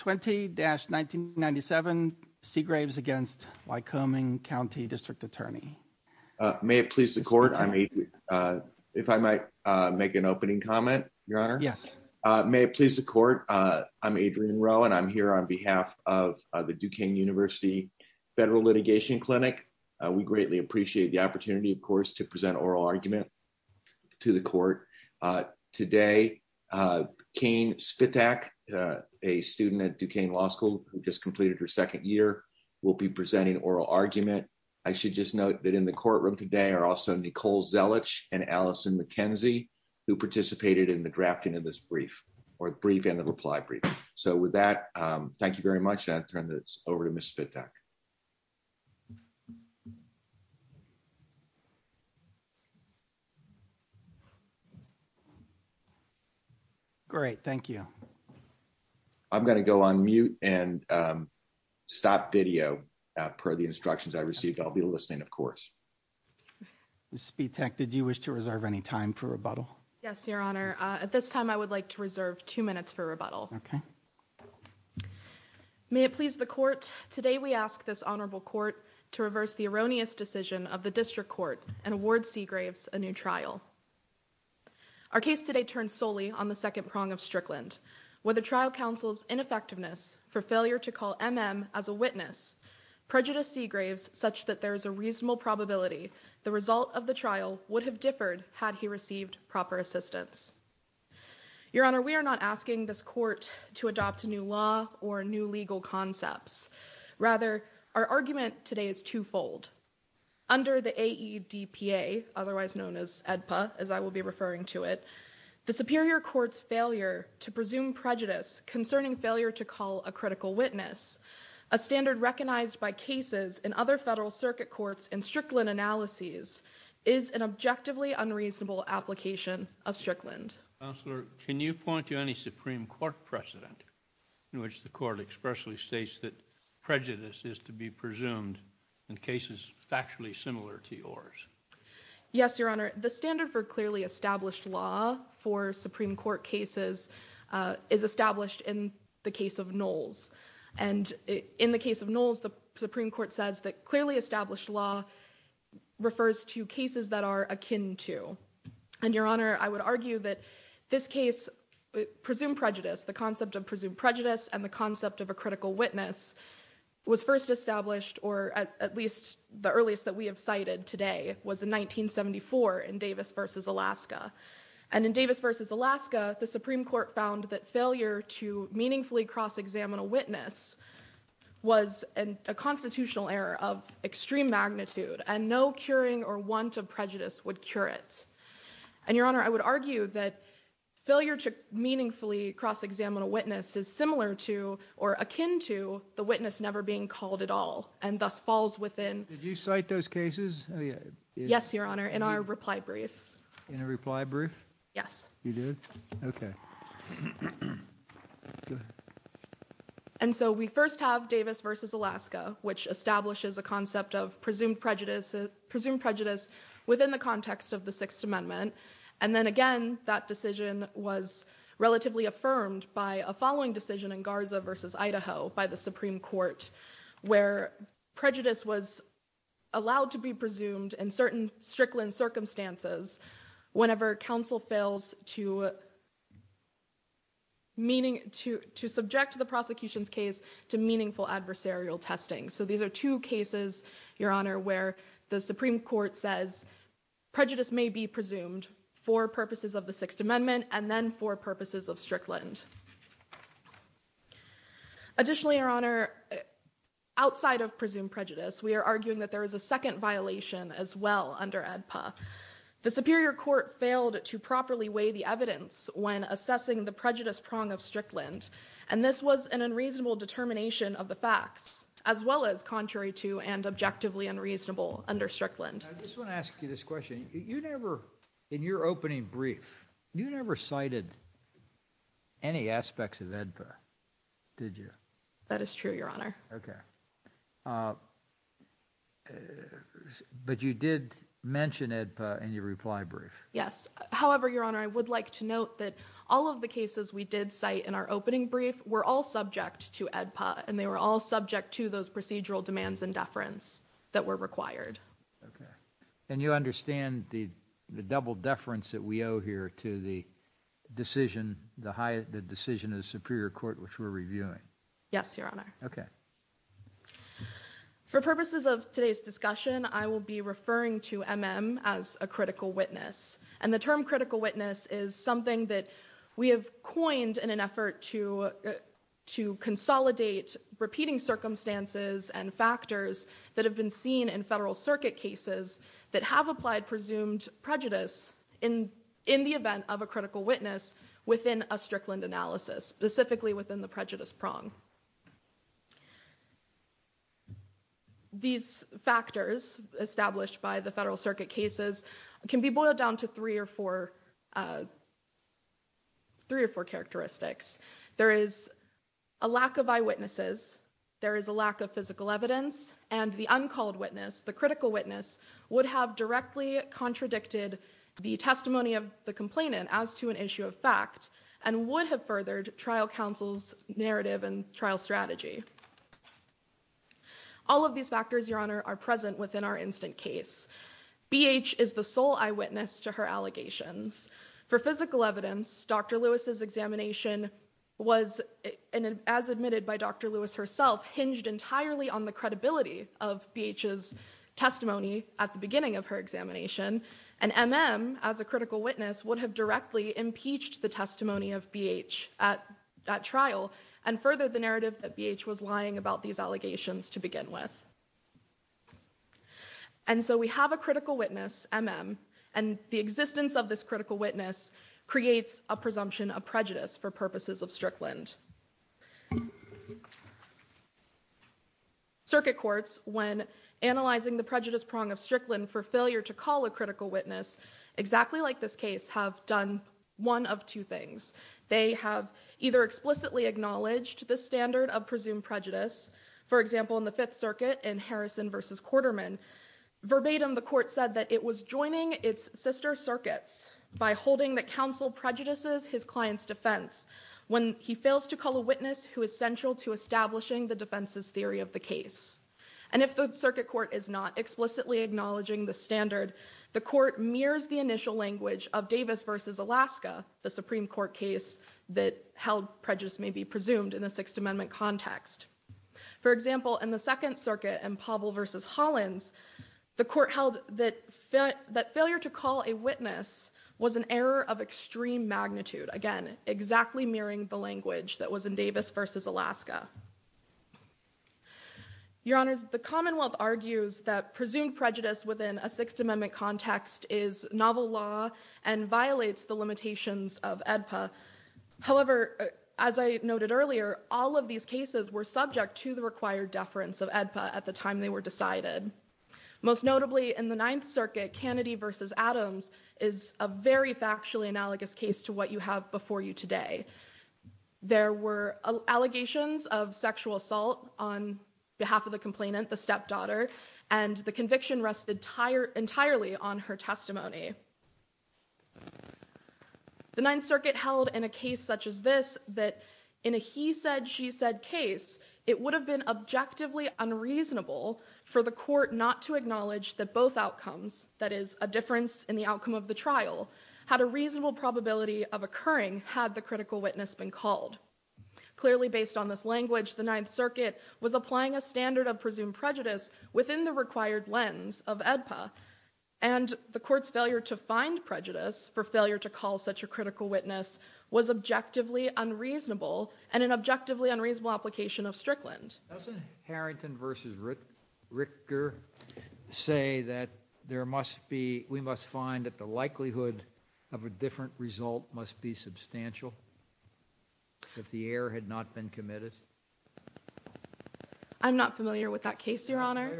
20-1997 Segraves against Lycoming County District Attorney. May it please the court, if I might make an opening comment, Your Honor? Yes. May it please the court, I'm Adrian Rowe and I'm here on behalf of the Duquesne University Federal Litigation Clinic. We greatly appreciate the opportunity, of course, to present oral argument to the court. Today, Kane Spitak, a student at Duquesne Law School who just completed her second year, will be presenting oral argument. I should just note that in the courtroom today are also Nicole Zelich and Allison McKenzie, who participated in the drafting of this brief, or brief and the reply brief. So with that, thank you very much. Great, thank you. I'm going to go on mute and stop video per the instructions I received. I'll be listening, of course. Ms. Spitak, did you wish to reserve any time for rebuttal? Yes, Your Honor. At this time, I would like to reserve two minutes for rebuttal. Okay. May it please the court, today we ask this honorable court to reverse the erroneous decision of the district court and award Seagraves a new trial. Our case today turns solely on the second prong of Strickland. With the trial counsel's ineffectiveness for failure to call MM as a witness, prejudice Seagraves such that there is a reasonable probability the result of the trial would have differed had he received proper assistance. Your Honor, we are not asking this court to adopt a new law or new legal concepts. Rather, our argument today is twofold. Under the AEDPA, otherwise known as EDPA, as I will be referring to it, the superior court's failure to presume prejudice concerning failure to call a critical witness, a standard recognized by cases in other federal circuit courts and Strickland analyses, is an objectively unreasonable application of Strickland. Counselor, can you point to any Supreme Court precedent in which the court expressly states that prejudice is to be presumed in cases factually similar to yours? Yes, Your Honor. The standard for clearly established law for Supreme Court cases is established in the case of Knowles. And in the case of Knowles, the Supreme Court says that clearly established law refers to cases that are akin to. And Your Honor, I would argue that this case, presumed prejudice, the concept of presumed witness, was first established, or at least the earliest that we have cited today was in 1974 in Davis v. Alaska. And in Davis v. Alaska, the Supreme Court found that failure to meaningfully cross-examine a witness was a constitutional error of extreme magnitude, and no curing or want of prejudice would cure it. And Your Honor, I would argue that failure to meaningfully cross-examine a witness is similar to, or akin to, the witness never being called at all, and thus falls within. Did you cite those cases? Yes, Your Honor, in our reply brief. In a reply brief? Yes. You did? Okay. And so we first have Davis v. Alaska, which establishes a concept of presumed prejudice within the context of the Sixth Amendment. And then again, that decision was relatively affirmed by a following decision in Garza v. Idaho by the Supreme Court, where prejudice was allowed to be presumed in certain Strickland circumstances whenever counsel fails to subject the prosecution's case to meaningful adversarial testing. So these are two cases, Your Honor, where the Supreme Court says prejudice may be presumed for purposes of the Sixth Amendment and then for purposes of Strickland. Additionally, Your Honor, outside of presumed prejudice, we are arguing that there is a second violation as well under ADPA. The Superior Court failed to properly weigh the evidence when assessing the prejudice prong of Strickland, and this was an unreasonable determination of the facts, as well as contrary to and objectively unreasonable under Strickland. I just want to ask you this question. You never, in your opening brief, you never cited any aspects of ADPA, did you? That is true, Your Honor. Okay. But you did mention ADPA in your reply brief? Yes. However, Your Honor, I would like to note that all of the cases we did cite in our opening brief were all subject to ADPA, and they were all subject to those procedural demands and deference that were required. Okay. And you understand the double deference that we owe here to the decision, the decision of the Superior Court which we're reviewing? Yes, Your Honor. Okay. For purposes of today's discussion, I will be referring to MM as a critical witness, and the term critical witness is something that we have coined in an effort to consolidate repeating circumstances and factors that have been seen in Federal Circuit cases that have applied presumed prejudice in the event of a critical witness within a Strickland analysis, specifically within the prejudice prong. These factors established by the Federal Circuit cases can be boiled down to three or four characteristics. There is a lack of eyewitnesses, there is a lack of physical evidence, and the uncalled witness, the critical witness, would have directly contradicted the testimony of the complainant as to an issue of fact and would have furthered trial counsel's narrative and trial strategy. All of these factors, Your Honor, are present within our instant case. BH is the sole eyewitness to her allegations. For physical evidence, Dr. Lewis's examination was, as admitted by Dr. Lewis herself, hinged entirely on the credibility of BH's testimony at the beginning of her examination, and MM as a critical witness would have directly impeached the testimony of BH at that trial. And furthered the narrative that BH was lying about these allegations to begin with. And so we have a critical witness, MM, and the existence of this critical witness creates a presumption of prejudice for purposes of Strickland. Circuit courts, when analyzing the prejudice prong of Strickland for failure to call a critical witness, exactly like this case, have done one of two things. They have either explicitly acknowledged the standard of presumed prejudice, for example, in the Fifth Circuit in Harrison v. Quarterman. Verbatim, the court said that it was joining its sister circuits by holding that counsel prejudices his client's defense when he fails to call a witness who is central to establishing the defense's theory of the case. And if the circuit court is not explicitly acknowledging the standard, the court mirrors the initial language of Davis v. Alaska, the Supreme Court case that held prejudice may be presumed in a Sixth Amendment context. For example, in the Second Circuit in Pavel v. Hollins, the court held that failure to call a witness was an error of extreme magnitude. Again, exactly mirroring the language that was in Davis v. Alaska. Your Honors, the Commonwealth argues that presumed prejudice within a Sixth Amendment context is novel law and violates the limitations of AEDPA. However, as I noted earlier, all of these cases were subject to the required deference of AEDPA at the time they were decided. Most notably, in the Ninth Circuit, Kennedy v. Adams is a very factually analogous case to what you have before you today. There were allegations of sexual assault on behalf of the complainant, the stepdaughter, and the conviction rested entirely on her testimony. The Ninth Circuit held in a case such as this that in a he said, she said case, it would have been objectively unreasonable for the court not to acknowledge that both outcomes, that is, a difference in the outcome of the trial, had a reasonable probability of occurring had the critical witness been called. Clearly based on this language, the Ninth Circuit was applying a standard of presumed prejudice within the required lens of AEDPA and the court's failure to find prejudice for failure to call such a critical witness was objectively unreasonable and an objectively unreasonable application of Strickland. Doesn't Harrington v. Ricker say that there must be, we must find that the likelihood of a different result must be substantial if the error had not been committed? I'm not familiar with that case, Your Honor.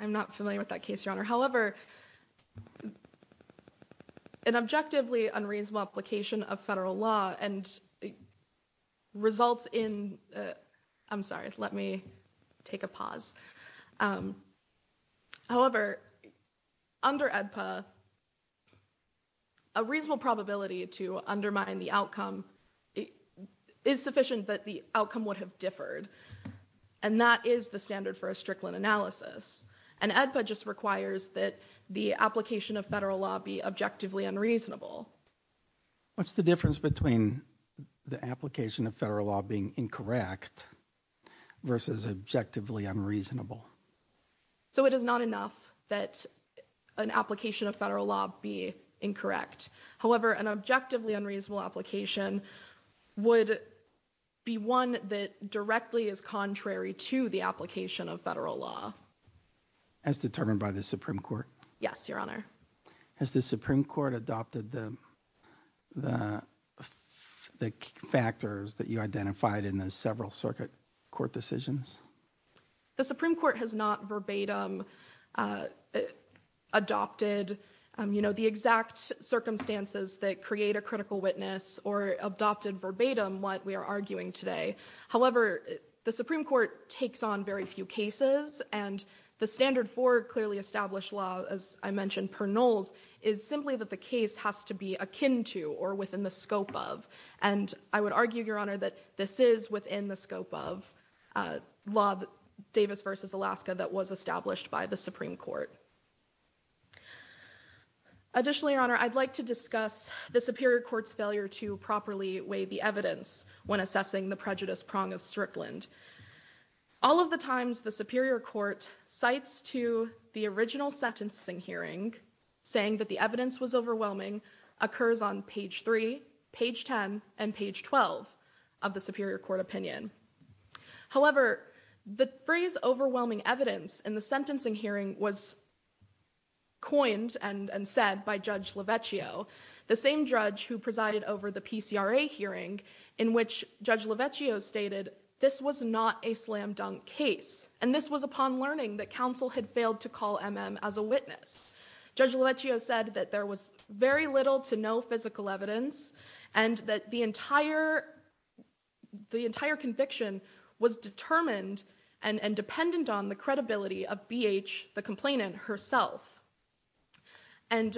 I'm not familiar with that case, Your Honor. However, an objectively unreasonable application of federal law and results in, I'm sorry, let me take a pause. However, under AEDPA, a reasonable probability to undermine the outcome is sufficient, but the outcome would have differed and that is the standard for a Strickland analysis and AEDPA just requires that the application of federal law be objectively unreasonable. What's the difference between the application of federal law being incorrect versus objectively unreasonable? So it is not enough that an application of federal law be incorrect. However, an objectively unreasonable application would be one that directly is contrary to the application of federal law. As determined by the Supreme Court? Yes, Your Honor. Has the Supreme Court adopted the factors that you identified in the several circuit court decisions? The Supreme Court has not verbatim adopted the exact circumstances that create a critical witness or adopted verbatim what we are arguing today. However, the Supreme Court takes on very few cases and the standard for clearly established law, as I mentioned, per nulls, is simply that the case has to be akin to or within the scope of. And I would argue, Your Honor, that this is within the scope of law Davis versus Alaska that was established by the Supreme Court. Additionally, Your Honor, I'd like to discuss the Superior Court's failure to properly weigh the evidence when assessing the prejudice prong of Strickland. All of the times the Superior Court cites to the original sentencing hearing saying that the evidence was overwhelming occurs on page three, page 10 and page 12 of the Superior Court opinion. However, the phrase overwhelming evidence in the sentencing hearing was coined and said by Judge Lavecchio, the same judge who presided over the PCRA hearing in which Judge Lavecchio stated this was not a slam dunk case. And this was upon learning that counsel had failed to call M.M. as a witness. Judge Lavecchio said that there was very little to no physical evidence and that the entire conviction was determined and dependent on the credibility of B.H., the complainant herself. And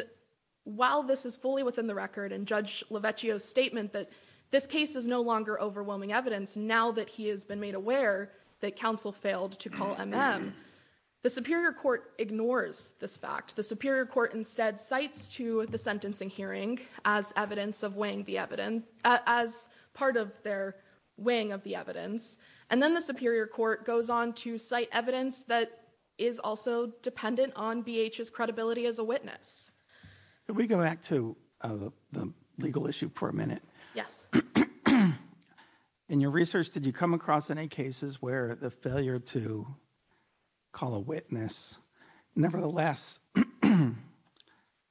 while this is fully within the record and Judge Lavecchio's statement that this case is no longer overwhelming evidence now that he has been made aware that counsel failed to call M.M., the Superior Court ignores this fact. The Superior Court instead cites to the sentencing hearing as evidence of weighing the evidence as part of their weighing of the evidence. And then the Superior Court goes on to cite evidence that is also dependent on B.H.'s credibility as a witness. Can we go back to the legal issue for a minute? Yes. In your research, did you come across any cases where the failure to call a witness nevertheless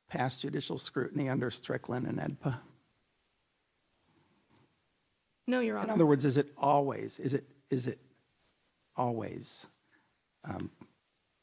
passed judicial scrutiny under Strickland and AEDPA? No, Your Honor. In other words, is it always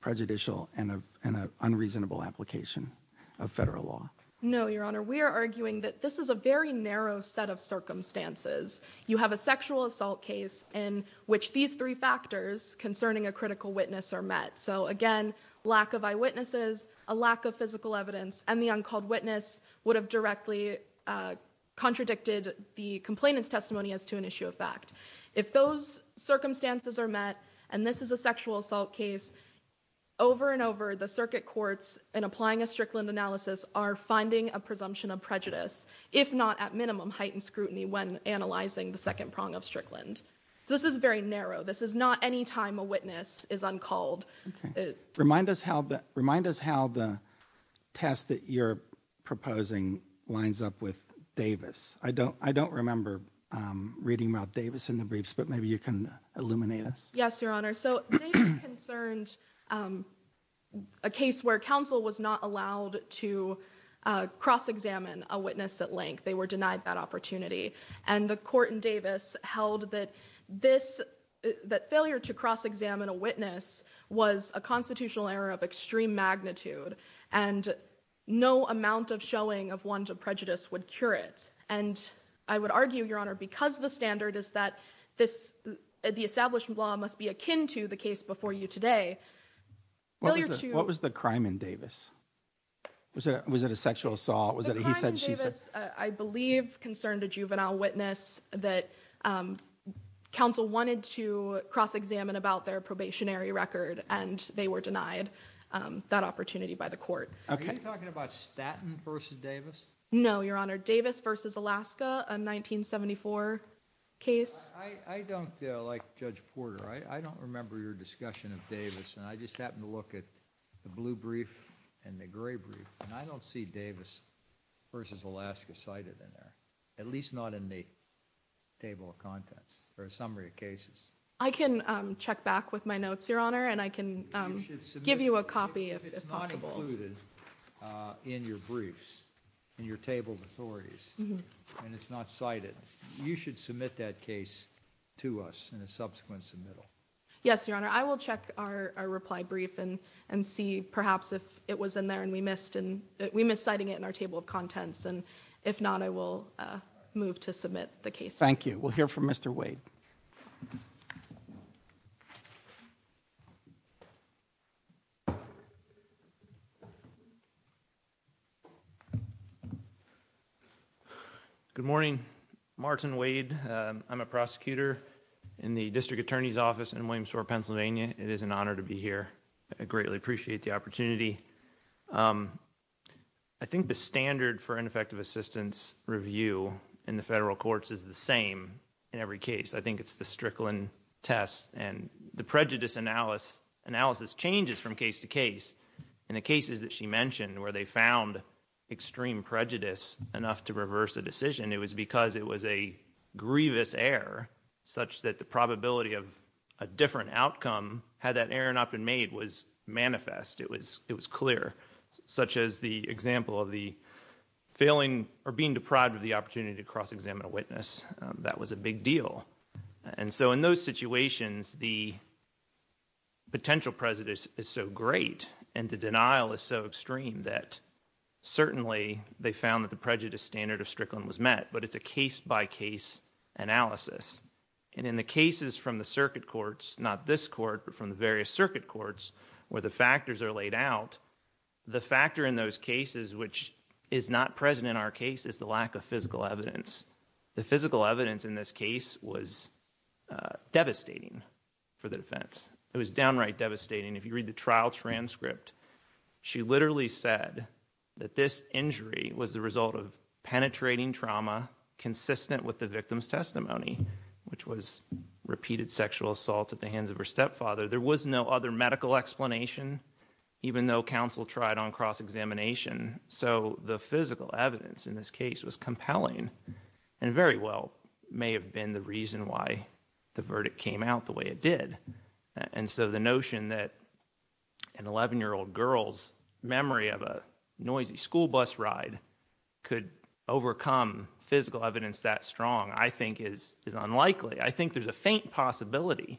prejudicial and an unreasonable application of federal law? No, Your Honor. We are arguing that this is a very narrow set of circumstances. You have a sexual assault case in which these three factors concerning a critical witness are met. So again, lack of eyewitnesses, a lack of physical evidence, and the uncalled witness would have directly contradicted the complainant's testimony as to an issue of fact. If those circumstances are met and this is a sexual assault case, over and over, the if not at minimum heightened scrutiny when analyzing the second prong of Strickland. This is very narrow. This is not any time a witness is uncalled. Remind us how the test that you're proposing lines up with Davis. I don't remember reading about Davis in the briefs, but maybe you can illuminate us. Yes, Your Honor. Davis concerned a case where counsel was not allowed to cross-examine a witness at length. They were denied that opportunity. And the court in Davis held that failure to cross-examine a witness was a constitutional error of extreme magnitude and no amount of showing of want of prejudice would cure it. And I would argue, Your Honor, because the standard is that the established law must be akin to the case before you today. What was the crime in Davis? Was it a sexual assault? I believe concerned a juvenile witness that counsel wanted to cross-examine about their probationary record, and they were denied that opportunity by the court. Are you talking about Statton versus Davis? No, Your Honor. Davis versus Alaska, a 1974 case. I don't like Judge Porter. I don't remember your discussion of Davis, and I just happened to look at the blue brief and the gray brief, and I don't see Davis versus Alaska cited in there, at least not in the table of contents or a summary of cases. I can check back with my notes, Your Honor, and I can give you a copy if possible. If it's not included in your briefs, in your table of authorities, and it's not cited, you should submit that case to us in a subsequent submittal. Yes, Your Honor. I will check our reply brief and see perhaps if it was in there and we missed citing it in our table of contents, and if not, I will move to submit the case. Thank you. We'll hear from Mr. Wade. Good morning. Martin Wade. I'm a prosecutor in the District Attorney's Office in Williamstown, Pennsylvania. It is an honor to be here. I greatly appreciate the opportunity. I think the standard for ineffective assistance review in the federal courts is the same in every case. I think it's the Strickland test, and the prejudice analysis changes from case to case. In the cases that she mentioned where they found extreme prejudice enough to reverse a decision, it was because it was a grievous error such that the probability of a different outcome had that error not been made was manifest. It was clear, such as the example of the failing or being deprived of the opportunity to cross examine a witness. That was a big deal. And so in those situations, the potential prejudice is so great and the denial is so extreme that certainly they found that the prejudice standard of Strickland was met, but it's a case-by-case analysis. And in the cases from the circuit courts, not this court, but from the various circuit courts where the factors are laid out, the factor in those cases which is not present in our case is the lack of physical evidence. The physical evidence in this case was devastating for the defense. It was downright devastating. If you read the trial transcript, she literally said that this injury was the result of penetrating trauma consistent with the victim's testimony, which was repeated sexual assault at the hands of her stepfather. There was no other medical explanation, even though counsel tried on cross-examination. So the physical evidence in this case was compelling and very well may have been the reason why the verdict came out the way it did. And so the notion that an 11-year-old girl's memory of a noisy school bus ride could overcome physical evidence that strong, I think is unlikely. I think there's a faint possibility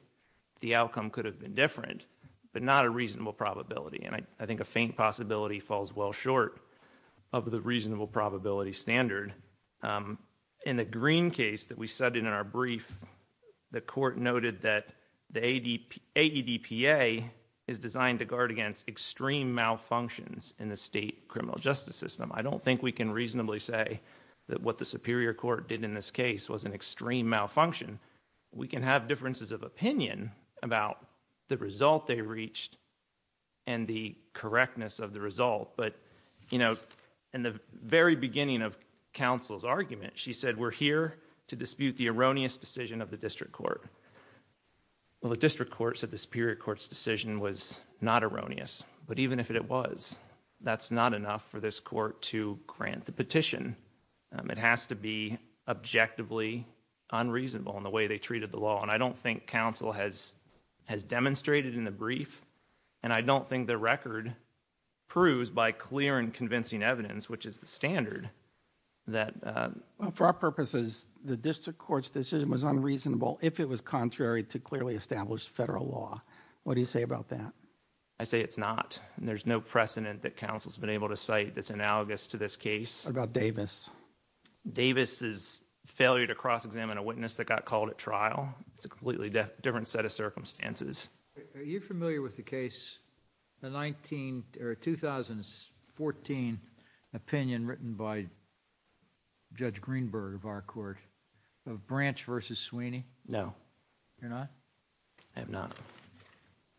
the outcome could have been different, but not a reasonable probability. I think a faint possibility falls well short of the reasonable probability standard. In the Green case that we studied in our brief, the court noted that the ADPA is designed to guard against extreme malfunctions in the state criminal justice system. I don't think we can reasonably say that what the Superior Court did in this case was an extreme malfunction. We can have differences of opinion about the result they reached and the correctness of the result. But, you know, in the very beginning of counsel's argument, she said, we're here to dispute the erroneous decision of the district court. Well, the district court said the Superior Court's decision was not erroneous, but even if it was, that's not enough for this court to grant the petition. It has to be objectively unreasonable in the way they treated the law. And I don't think counsel has demonstrated in the brief, and I don't think the record proves by clear and convincing evidence, which is the standard, that. For our purposes, the district court's decision was unreasonable if it was contrary to clearly established federal law. What do you say about that? I say it's not. There's no precedent that counsel's been able to cite that's analogous to this case. What about Davis? Davis's failure to cross-examine a witness that got called at trial. It's a completely different set of circumstances. Are you familiar with the case, the 2014 opinion written by Judge Greenberg of our court, of Branch v. Sweeney? No. You're not? I am not.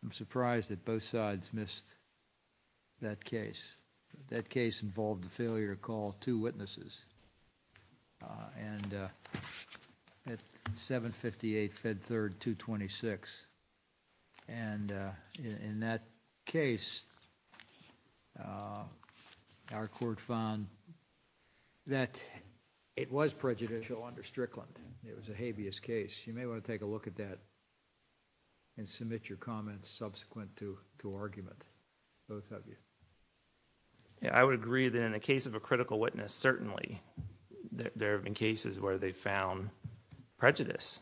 I'm surprised that both sides missed that case. That case involved the failure to call two witnesses at 758 Fed Third 226. And in that case, our court found that it was prejudicial under Strickland. It was a habeas case. You may want to take a look at that and submit your comments subsequent to argument, both of you. I would agree that in the case of a critical witness, certainly there have been cases where they found prejudice.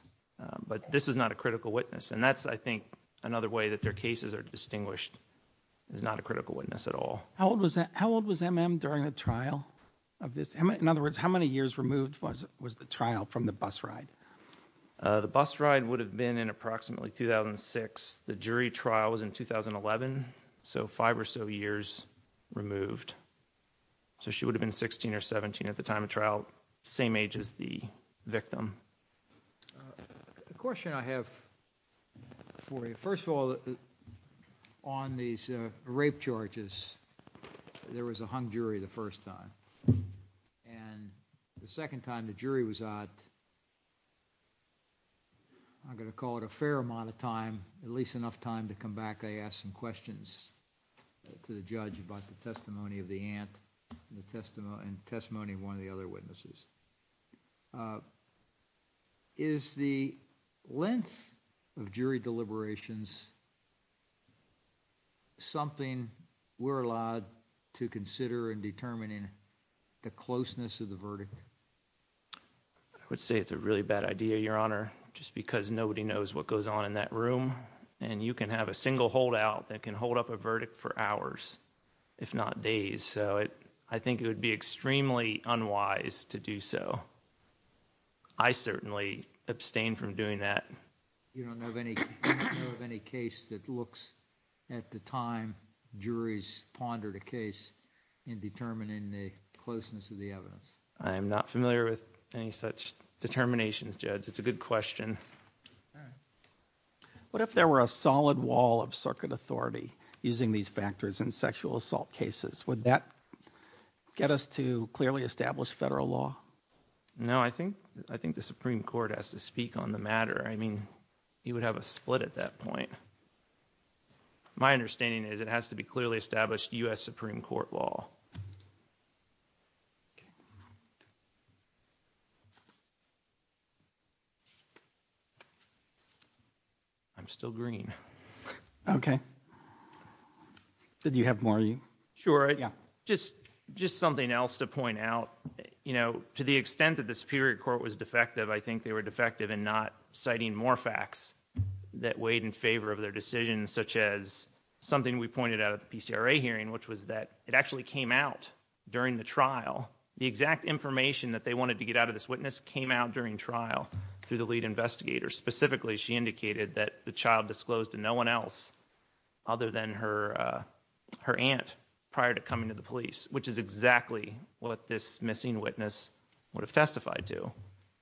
But this is not a critical witness. And that's, I think, another way that their cases are distinguished is not a critical witness at all. How old was MM during the trial of this? In other words, how many years removed was the trial from the bus ride? The bus ride would have been in approximately 2006. The jury trial was in 2011. So five or so years removed. So she would have been 16 or 17 at the time of trial, same age as the victim. The question I have for you, first of all, on these rape charges, there was a hung jury the first time. And the second time the jury was out, I'm going to call it a fair amount of time, at least enough time to come back. I asked some questions to the judge about the testimony of the aunt and testimony of one of the other witnesses. Is the length of jury deliberations something we're allowed to consider in determining the closeness of the verdict? I would say it's a really bad idea, Your Honor, just because nobody knows what goes on in that room. And you can have a single holdout that can hold up a verdict for hours, if not days. So I think it would be extremely unwise to do so. I certainly abstain from doing that. You don't know of any case that looks at the time juries pondered a case in determining the closeness of the evidence? I am not familiar with any such determinations, Judge. It's a good question. All right. What if there were a solid wall of circuit authority using these factors in sexual assault cases? Would that get us to clearly establish federal law? No, I think the Supreme Court has to speak on the matter. I mean, you would have a split at that point. My understanding is it has to be clearly established U.S. Supreme Court law. I'm still green. Okay. Did you have more? Sure. Just something else to point out. To the extent that the Superior Court was defective, I think they were defective in not citing more facts that weighed in favor of their decision, such as something we pointed out at the PCRA hearing, which was that it actually came out during the trial. The exact information that they wanted to get out of this witness came out during trial through the lead investigator. Specifically, she indicated that the child disclosed to no one else other than her aunt prior to coming to the police, which is exactly what this missing witness would have testified to.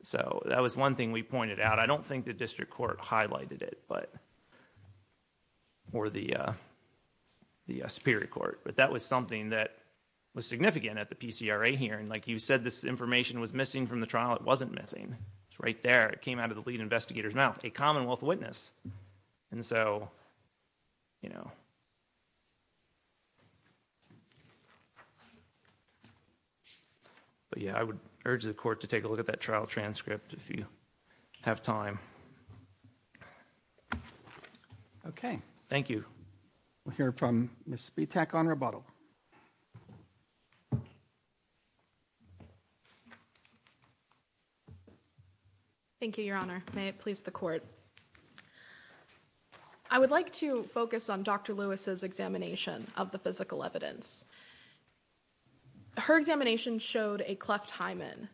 So that was one thing we pointed out. I don't think the District Court highlighted it, or the Superior Court, but that was something that was significant at the PCRA hearing. Like you said, this information was missing from the trial. It wasn't missing. It's right there. It came out of the lead investigator's mouth. A Commonwealth witness. And so, you know. But yeah, I would urge the Court to take a look at that trial transcript if you have time. Okay. Thank you. We'll hear from Ms. Spetak on rebuttal. Thank you, Your Honor. May it please the Court. I would like to focus on Dr. Lewis's examination of the physical evidence. Her examination showed a cleft hymen.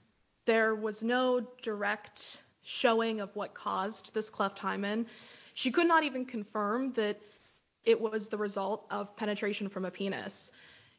There was no direct showing of what caused this cleft hymen. She could not even confirm that it was the result of penetration from a penis.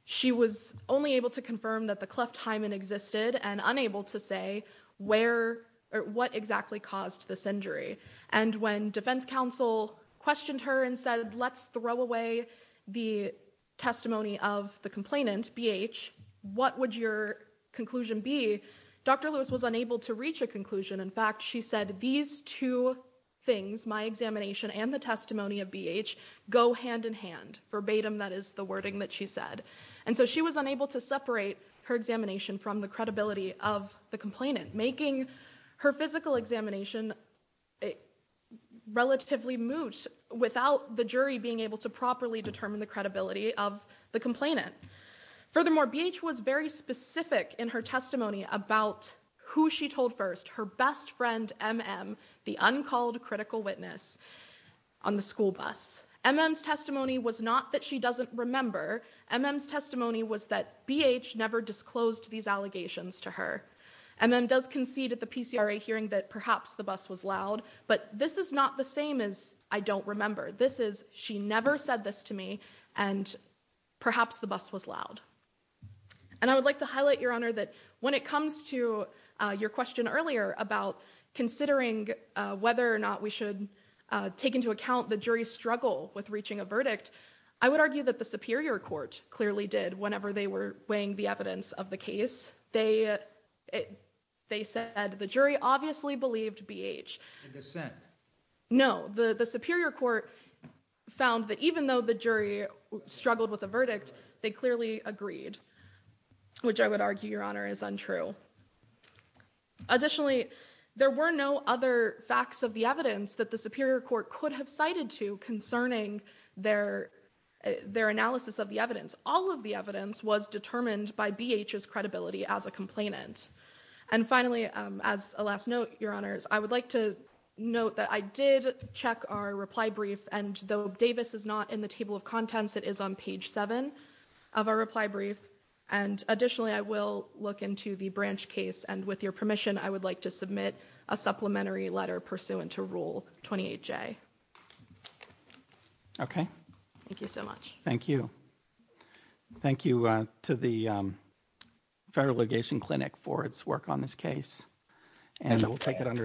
She was only able to confirm that the cleft hymen existed and unable to say where or what exactly caused this injury. And when Defense Counsel questioned her and said, let's throw away the testimony of the complainant, B.H., what would your conclusion be? Dr. Lewis was unable to reach a conclusion. In fact, she said, these two things, my examination and the testimony of B.H., go hand in hand. Verbatim, that is the wording that she said. And so she was unable to separate her examination from the credibility of the complainant, making her physical examination relatively moot without the jury being able to properly determine the credibility of the complainant. Furthermore, B.H. was very specific in her testimony about who she told first, her best friend, M.M., the uncalled critical witness on the school bus. M.M.'s testimony was not that she doesn't remember. M.M.'s testimony was that B.H. never disclosed these allegations to her. M.M. does concede at the PCRA hearing that perhaps the bus was loud, but this is not the same as I don't remember. This is, she never said this to me, and perhaps the bus was loud. And I would like to highlight, Your Honor, that when it comes to your question earlier about considering whether or not we should take into account the jury's struggle with reaching a verdict, I would argue that the Superior Court clearly did whenever they were weighing the evidence of the case. They said the jury obviously believed B.H. In dissent. No, the Superior Court found that even though the jury struggled with the verdict, they clearly agreed, which I would argue, Your Honor, is untrue. Additionally, there were no other facts of the evidence that the Superior Court could have cited to concerning their analysis of the evidence. All of the evidence was determined by B.H.'s credibility as a complainant. And finally, as a last note, Your Honors, I would like to note that I did check our reply brief, and though Davis is not in the table of contents, it is on page 7 of our reply brief. And additionally, I will look into the Branch case, and with your permission, I would like to submit a supplementary letter pursuant to Rule 28J. Thank you so much. Thank you. Thank you to the Federal Allegation Clinic for its work on this case, and I will take it under advisement.